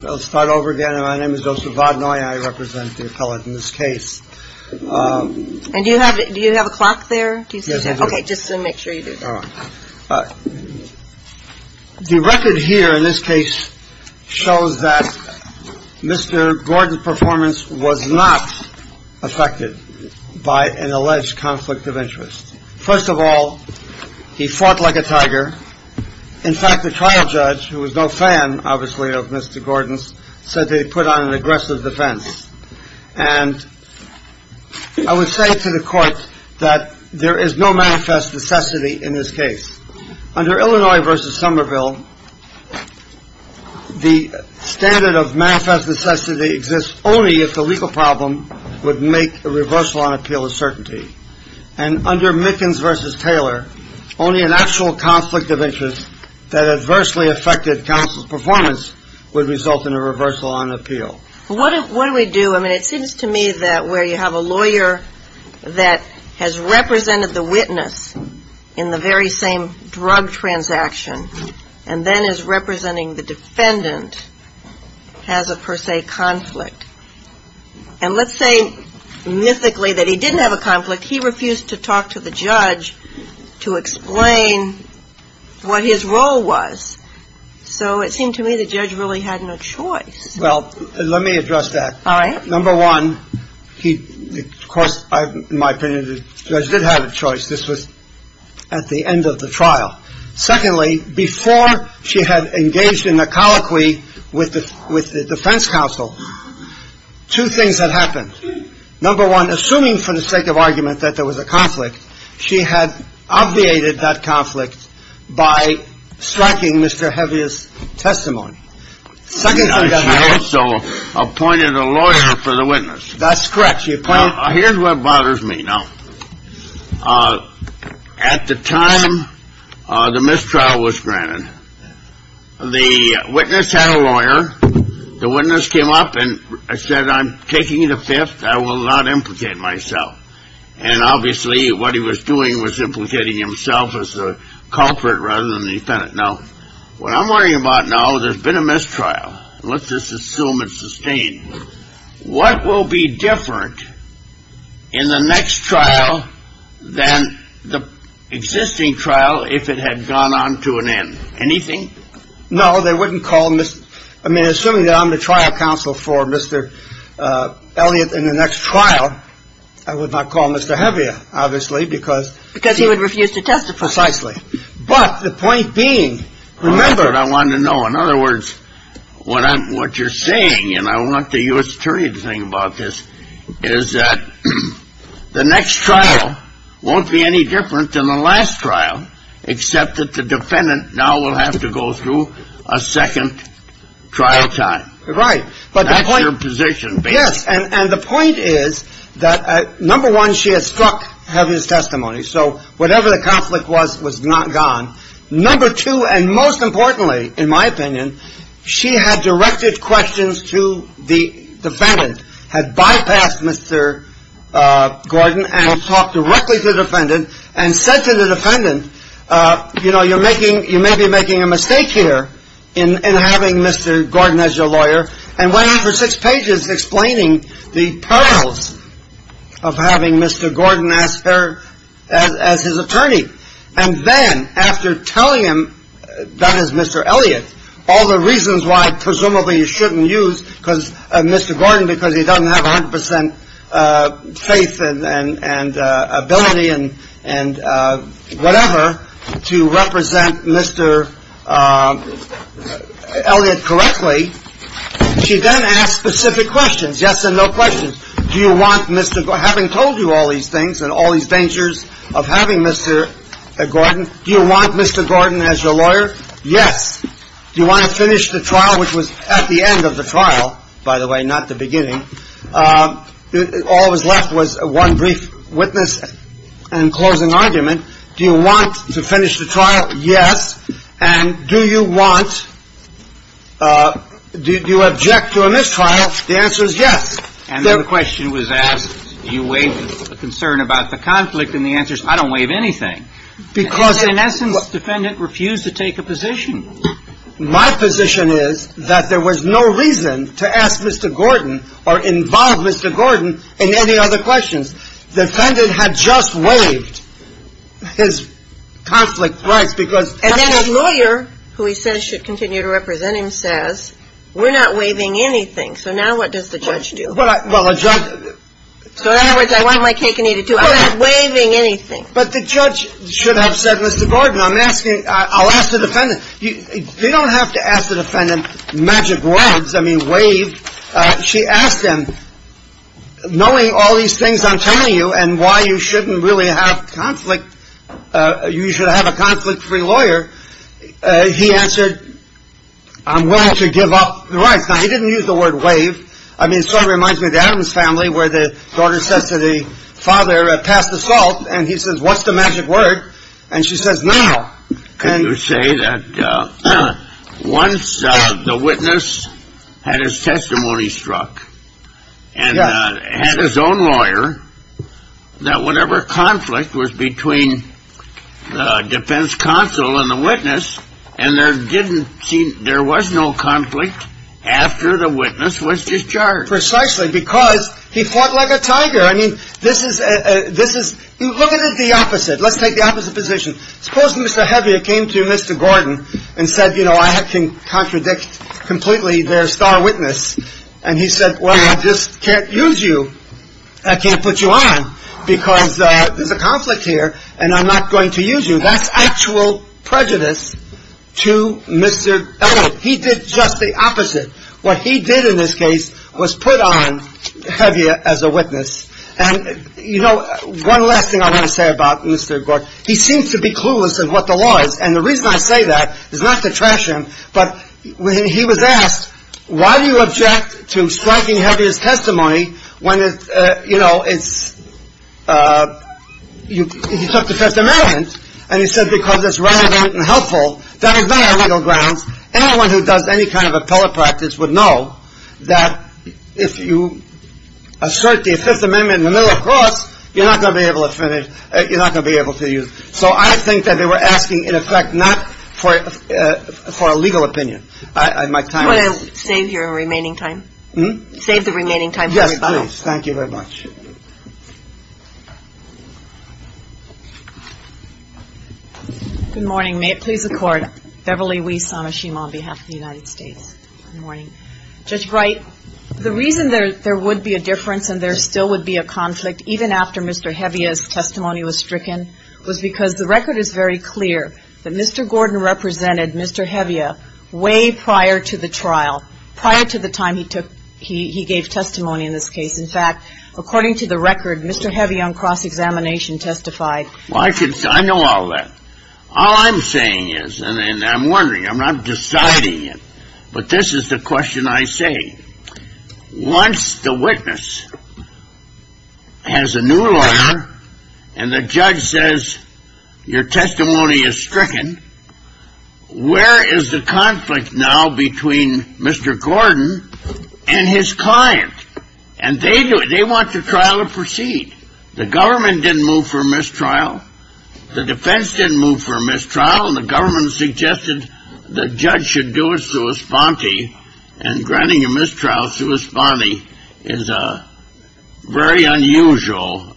Let's start over again. My name is Joseph Vaudenoye. I represent the appellate in this case. And you have it. Do you have a clock there? OK, just to make sure you do. The record here in this case shows that Mr. Gordon's performance was not affected by an alleged conflict of interest. First of all, he fought like a tiger. In fact, the trial judge, who was no fan, obviously, of Mr. Gordon's, said they put on an aggressive defense. And I would say to the court that there is no manifest necessity in this case. Under Illinois v. Somerville, the standard of manifest necessity exists only if the legal problem would make a reversal on appeal of certainty. And under Mickens v. Taylor, only an actual conflict of interest that adversely affected counsel's performance would result in a reversal on appeal. What do we do? I mean, it seems to me that where you have a lawyer that has represented the witness in the very same drug transaction and then is representing the defendant, has a per se conflict. And let's say mythically that he didn't have a conflict. He refused to talk to the judge to explain what his role was. So it seemed to me the judge really had no choice. Well, let me address that. All right. Number one, of course, in my opinion, the judge did have a choice. This was at the end of the trial. Secondly, before she had engaged in the colloquy with the with the defense counsel, two things had happened. Number one, assuming for the sake of argument that there was a conflict, she had obviated that conflict by striking Mr. Hevey's testimony. Second, she also appointed a lawyer for the witness. That's correct. Here's what bothers me now. At the time the mistrial was granted, the witness had a lawyer. The witness came up and said, I'm taking the fifth. I will not implicate myself. And obviously what he was doing was implicating himself as the culprit rather than the defendant. Now, what I'm worried about now, there's been a mistrial. Let's just assume it's sustained. What will be different in the next trial than the existing trial? If it had gone on to an end? Anything? No, they wouldn't call. I mean, assuming that I'm the trial counsel for Mr. Elliott in the next trial, I would not call Mr. because because he would refuse to testify precisely. But the point being, remember, I want to know, in other words, what I'm what you're saying. And I want the U.S. attorney to think about this is that the next trial won't be any different than the last trial, except that the defendant now will have to go through a second trial time. Right. But that's your position. Yes. And the point is that, number one, she has struck heaven's testimony. So whatever the conflict was, was not gone. Number two. And most importantly, in my opinion, she had directed questions to the defendant, had bypassed Mr. Gordon and talked directly to the defendant and said to the defendant, you know, Mr. Gordon as your lawyer and went on for six pages explaining the perils of having Mr. Gordon as her as his attorney. And then after telling him that as Mr. Elliott, all the reasons why presumably you shouldn't use because Mr. Gordon, because he doesn't have 100 percent faith and ability and and whatever to represent Mr. Elliott correctly. She then asked specific questions. Yes and no questions. Do you want Mr. Having told you all these things and all these dangers of having Mr. Gordon, do you want Mr. Gordon as your lawyer? Yes. You want to finish the trial, which was at the end of the trial, by the way, not the beginning. All that was left was one brief witness and closing argument. Do you want to finish the trial? Yes. And do you want. Do you object to a mistrial? The answer is yes. And the question was asked, do you waive the concern about the conflict? And the answer is I don't waive anything. Because in essence, the defendant refused to take a position. My position is that there was no reason to ask Mr. Gordon or involve Mr. Gordon in any other questions. The defendant had just waived his conflict rights because. And then his lawyer, who he says should continue to represent him, says, we're not waiving anything. So now what does the judge do? Well, a judge. So in other words, I want my cake and eat it too. I'm not waiving anything. But the judge should have said, Mr. Gordon, I'm asking. I'll ask the defendant. You don't have to ask the defendant magic words. I mean, waive. She asked him, knowing all these things I'm telling you and why you shouldn't really have conflict. You should have a conflict free lawyer. He answered. I'm willing to give up the rights. I didn't use the word waive. I mean, it sort of reminds me of the Adams family where the daughter says to the father, pass the salt. And he says, what's the magic word? And she says, no. Can you say that once the witness had his testimony struck and had his own lawyer, that whatever conflict was between the defense counsel and the witness and there didn't seem. There was no conflict after the witness was discharged. Precisely because he fought like a tiger. I mean, this is this is the opposite. Let's take the opposite position. Suppose Mr. Heavier came to Mr. Gordon and said, you know, I can contradict completely their star witness. And he said, well, I just can't use you. I can't put you on because there's a conflict here and I'm not going to use you. That's actual prejudice to Mr. He did just the opposite. What he did in this case was put on heavier as a witness. And, you know, one last thing I want to say about Mr. Gordon, he seems to be clueless of what the law is. And the reason I say that is not to trash him. But when he was asked, why do you object to striking heavy as testimony? When, you know, it's you took the Fifth Amendment and you said because it's relevant and helpful. Anyone who does any kind of appellate practice would know that if you assert the Fifth Amendment in the middle of course, you're not going to be able to finish it. You're not going to be able to use. So I think that they were asking, in effect, not for a legal opinion. I might save your remaining time, save the remaining time. Yes. Thank you very much. Good morning. May it please the Court. Beverly Weiss on behalf of the United States. Good morning. Judge Wright, the reason there would be a difference and there still would be a conflict even after Mr. Hevia's testimony was stricken was because the record is very clear that Mr. Gordon represented Mr. Hevia way prior to the trial, prior to the time he took he gave testimony in this case. In fact, according to the record, Mr. Hevia on cross-examination testified. I know all that. All I'm saying is, and I'm wondering, I'm not deciding it, but this is the question I say. Once the witness has a new lawyer and the judge says your testimony is stricken, where is the conflict now between Mr. Gordon and his client? And they do it. They want the trial to proceed. The government didn't move for a mistrial. The defense didn't move for a mistrial, and the government suggested the judge should do a sua sponte, and granting a mistrial sua sponte is a very unusual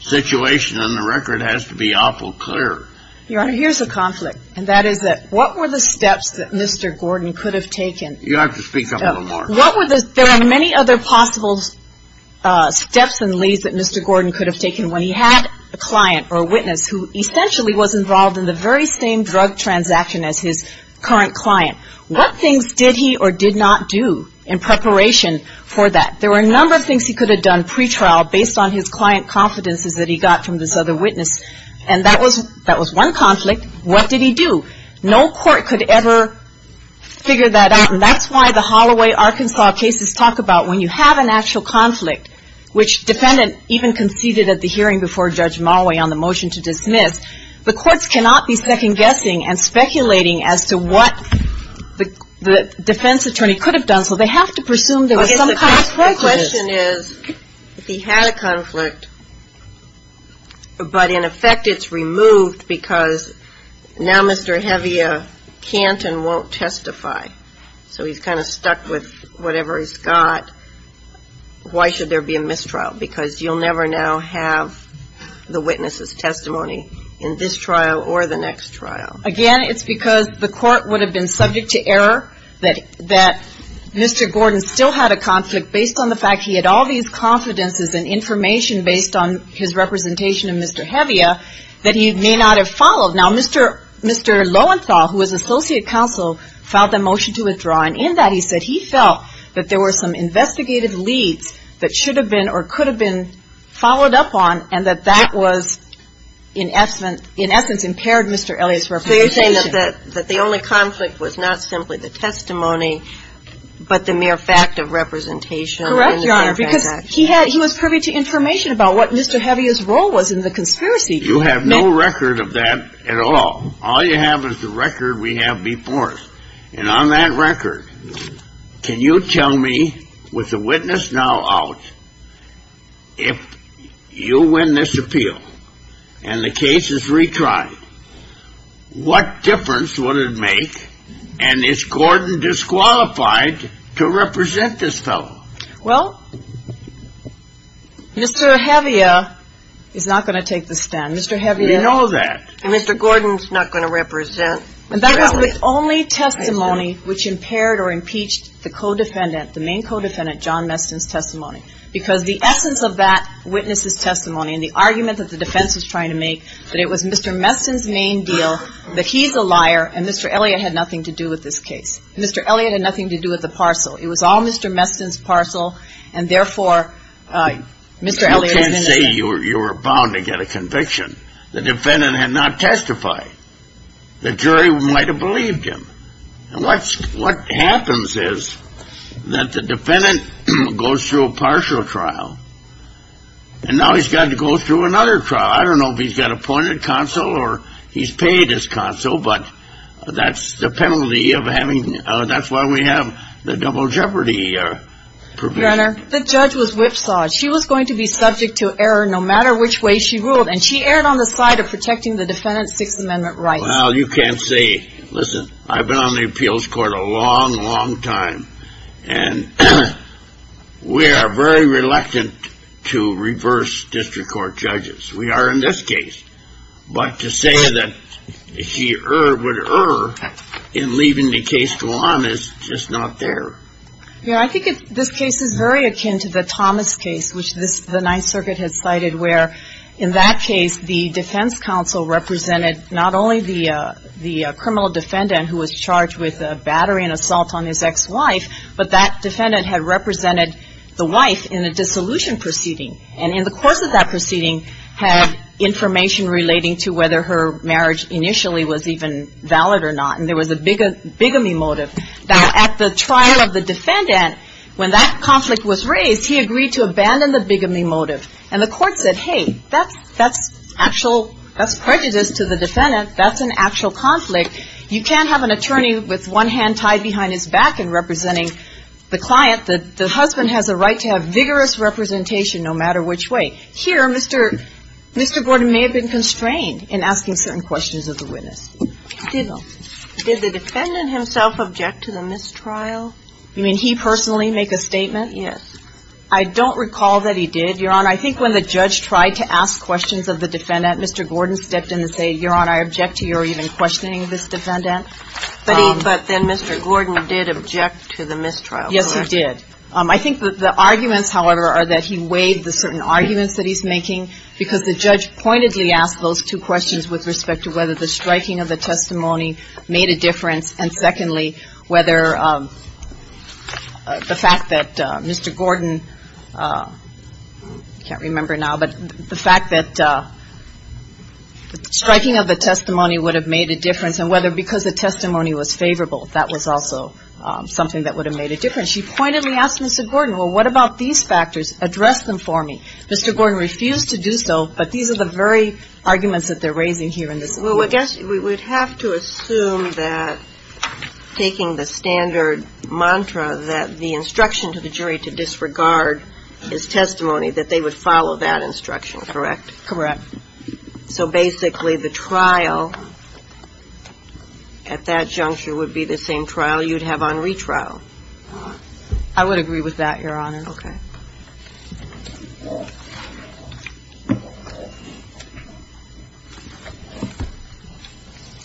situation, and the record has to be awful clear. Your Honor, here's a conflict, and that is that what were the steps that Mr. Gordon could have taken? You'll have to speak up a little more. There are many other possible steps and leads that Mr. Gordon could have taken when he had a client or a witness who essentially was involved in the very same drug transaction as his current client. What things did he or did not do in preparation for that? There were a number of things he could have done pretrial based on his client confidences that he got from this other witness, and that was one conflict. What did he do? No court could ever figure that out, and that's why the Holloway, Arkansas cases talk about when you have an actual conflict, which defendant even conceded at the hearing before Judge Moway on the motion to dismiss, the courts cannot be second-guessing and speculating as to what the defense attorney could have done, so they have to presume there was some kind of prejudice. My question is if he had a conflict, but in effect it's removed because now Mr. Hevia can't and won't testify, so he's kind of stuck with whatever he's got, why should there be a mistrial? Because you'll never now have the witness's testimony in this trial or the next trial. Again, it's because the court would have been subject to error that Mr. Gordon still had a conflict based on the fact he had all these confidences and information based on his representation of Mr. Hevia that he may not have followed. Now, Mr. Lowenthal, who was associate counsel, filed the motion to withdraw, and in that he said he felt that there were some investigative leads that should have been or could have been followed up on and that that was in essence impaired Mr. Elliott's representation. You're saying that the only conflict was not simply the testimony, but the mere fact of representation. Correct, Your Honor, because he was privy to information about what Mr. Hevia's role was in the conspiracy. You have no record of that at all. All you have is the record we have before us. And on that record, can you tell me, with the witness now out, if you win this appeal and the case is retried, what difference would it make, and is Gordon disqualified, to represent this fellow? Well, Mr. Hevia is not going to take the stand. Mr. Hevia. We know that. And Mr. Gordon's not going to represent Mr. Elliott. And that was the only testimony which impaired or impeached the co-defendant, the main co-defendant, John Meston's testimony, because the essence of that witness's testimony and the argument that the defense was trying to make that it was Mr. Meston's main deal, that he's a liar, and Mr. Elliott had nothing to do with this case. Mr. Elliott had nothing to do with the parcel. It was all Mr. Meston's parcel, and therefore, Mr. Elliott is innocent. You can't say you were bound to get a conviction. The defendant had not testified. The jury might have believed him. And what happens is that the defendant goes through a partial trial, and now he's got to go through another trial. I don't know if he's got appointed counsel or he's paid his counsel, but that's the penalty of having the double jeopardy provision. Your Honor, the judge was whipsawed. She was going to be subject to error no matter which way she ruled, and she erred on the side of protecting the defendant's Sixth Amendment rights. Well, you can't say, listen, I've been on the appeals court a long, long time, and we are very reluctant to reverse district court judges. We are in this case. But to say that she would err in leaving the case to one is just not fair. Yeah, I think this case is very akin to the Thomas case, which the Ninth Circuit had cited, where in that case the defense counsel represented not only the criminal defendant who was charged with battery and assault on his ex-wife, but that defendant had represented the wife in a dissolution proceeding. And in the course of that proceeding had information relating to whether her marriage initially was even valid or not. And there was a bigamy motive. Now, at the trial of the defendant, when that conflict was raised, he agreed to abandon the bigamy motive. And the court said, hey, that's actual – that's prejudice to the defendant. That's an actual conflict. You can't have an attorney with one hand tied behind his back and representing the client. The husband has a right to have vigorous representation no matter which way. Here, Mr. Gordon may have been constrained in asking certain questions of the witness. Did the defendant himself object to the mistrial? You mean he personally make a statement? Yes. I don't recall that he did. Your Honor, I think when the judge tried to ask questions of the defendant, Mr. Gordon stepped in and said, Your Honor, I object to your even questioning this defendant. But he – but then Mr. Gordon did object to the mistrial, correct? Yes, he did. I think the arguments, however, are that he weighed the certain arguments that he's making because the judge pointedly asked those two questions with respect to whether the striking of the testimony made a difference, and secondly, whether the fact that Mr. Gordon – I can't remember now, but the fact that striking of the testimony would have made a difference and whether because the testimony was favorable, that was also something that would have made a difference. He pointedly asked Mr. Gordon, well, what about these factors? Address them for me. Mr. Gordon refused to do so, but these are the very arguments that they're raising here in this case. Well, I guess we would have to assume that taking the standard mantra that the instruction to the jury to disregard his testimony, that they would follow that instruction, correct? Correct. So basically the trial at that juncture would be the same trial you'd have on retrial. I would agree with that, Your Honor. Okay.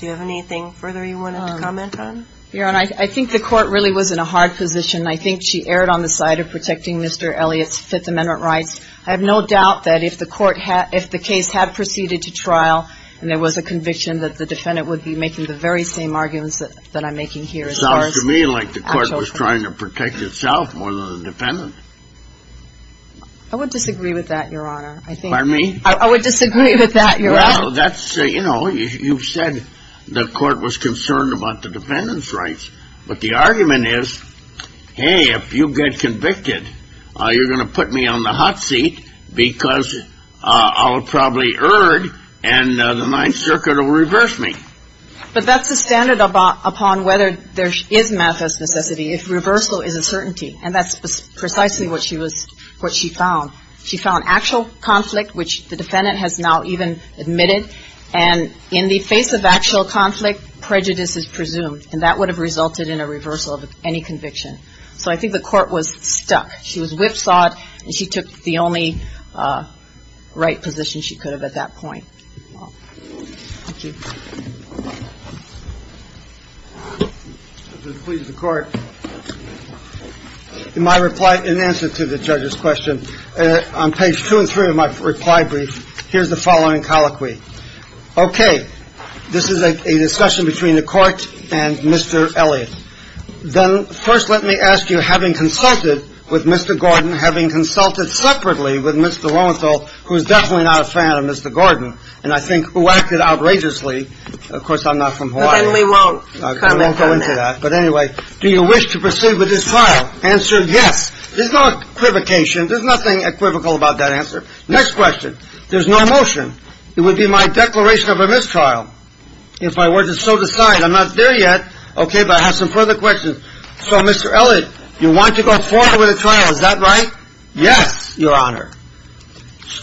Do you have anything further you wanted to comment on? Your Honor, I think the court really was in a hard position. I think she erred on the side of protecting Mr. Elliott's Fifth Amendment rights. I have no doubt that if the case had proceeded to trial and there was a conviction that the defendant would be making the very same arguments that I'm making here. It sounds to me like the court was trying to protect itself more than the defendant. I would disagree with that, Your Honor. Pardon me? I would disagree with that, Your Honor. Well, that's, you know, you've said the court was concerned about the defendant's rights. But the argument is, hey, if you get convicted, you're going to put me on the hot seat because I'll probably err and the Ninth Circuit will reverse me. But that's the standard upon whether there is manifest necessity, if reversal is a certainty. And that's precisely what she found. She found actual conflict, which the defendant has now even admitted. And in the face of actual conflict, prejudice is presumed. And that would have resulted in a reversal of any conviction. So I think the court was stuck. She was whipsawed and she took the only right position she could have at that point. Thank you. Please, the court. In my reply, in answer to the judge's question, on page two and three of my reply brief, here's the following colloquy. Okay. This is a discussion between the court and Mr. Elliott. Then first let me ask you, having consulted with Mr. Gordon, having consulted separately with Mr. Lowenthal, who is definitely not a fan of Mr. Gordon, and I think who acted outrageously. Of course, I'm not from Hawaii. I won't go into that. But anyway, do you wish to proceed with this trial? Answer, yes. There's no equivocation. There's nothing equivocal about that answer. Next question. There's no motion. It would be my declaration of a mistrial if I were to so decide. I'm not there yet. Okay. But I have some further questions. So, Mr. Elliott, you want to go forward with the trial. Is that right? Yes, Your Honor.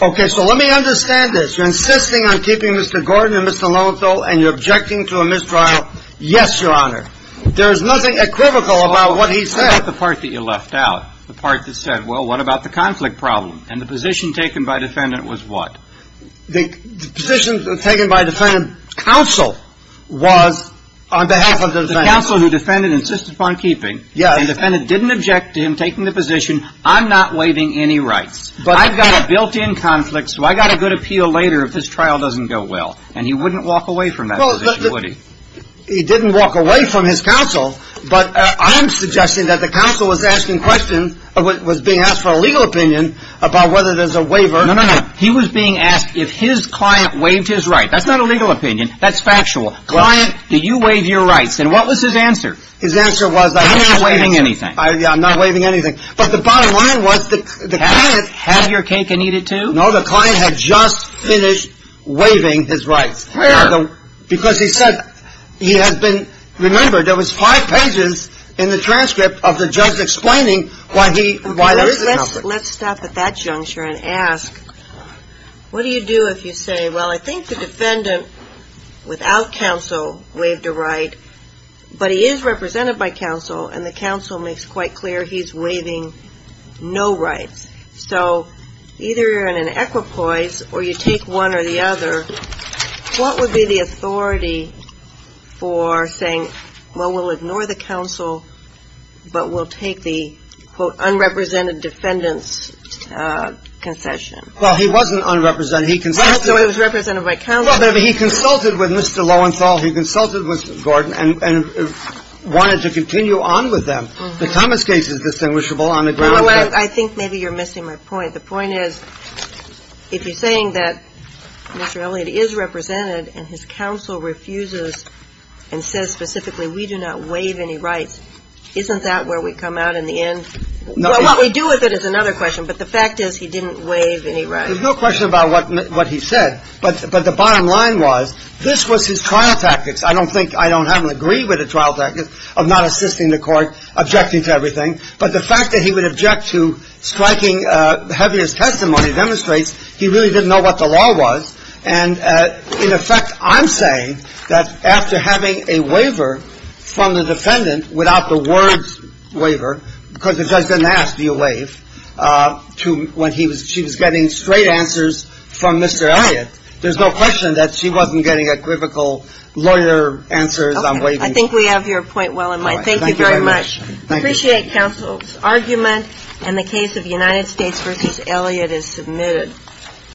Okay. So let me understand this. You're insisting on keeping Mr. Gordon and Mr. Lowenthal, and you're objecting to a mistrial? Yes, Your Honor. There is nothing equivocal about what he said. I like the part that you left out, the part that said, well, what about the conflict problem? And the position taken by defendant was what? The position taken by defendant counsel was on behalf of the defendant. The counsel who defendant insisted upon keeping. Yes. And defendant didn't object to him taking the position. I'm not waiving any rights. I've got a built-in conflict, so I've got a good appeal later if this trial doesn't go well. And he wouldn't walk away from that position, would he? He didn't walk away from his counsel, but I'm suggesting that the counsel was asking questions, was being asked for a legal opinion about whether there's a waiver. No, no, no. He was being asked if his client waived his right. That's not a legal opinion. That's factual. Client. Did you waive your rights? And what was his answer? His answer was that I'm not waiving anything. I'm not waiving anything. But the bottom line was the client. Had your cake and eat it too? No, the client had just finished waiving his rights. Where? Because he said he has been remembered. There was five pages in the transcript of the judge explaining why there is a conflict. Let's stop at that juncture and ask, what do you do if you say, well, I think the defendant without counsel waived a right, but he is represented by counsel and the counsel makes quite clear he's waiving no rights? So either you're in an equipoise or you take one or the other, what would be the authority for saying, well, we'll ignore the counsel, but we'll take the, quote, unrepresented defendant's concession? Well, he wasn't unrepresented. He consulted. So he was represented by counsel. Well, but he consulted with Mr. Lowenthal. He consulted with Mr. Gordon and wanted to continue on with them. The Thomas case is distinguishable on the ground. Well, I think maybe you're missing my point. The point is, if you're saying that Mr. Elliott is represented and his counsel refuses and says specifically we do not waive any rights, isn't that where we come out in the end? No. What we do with it is another question, but the fact is he didn't waive any rights. There's no question about what he said. But the bottom line was this was his trial tactics. I don't think I don't have an agree with a trial tactic of not assisting the court, objecting to everything. But the fact that he would object to striking the heaviest testimony demonstrates he really didn't know what the law was. And, in effect, I'm saying that after having a waiver from the defendant without the words because the judge didn't ask, do you waive, when she was getting straight answers from Mr. Elliott, there's no question that she wasn't getting equivocal lawyer answers on waiving. I think we have your point well in line. Thank you very much. I appreciate counsel's argument. And the case of United States v. Elliott is submitted.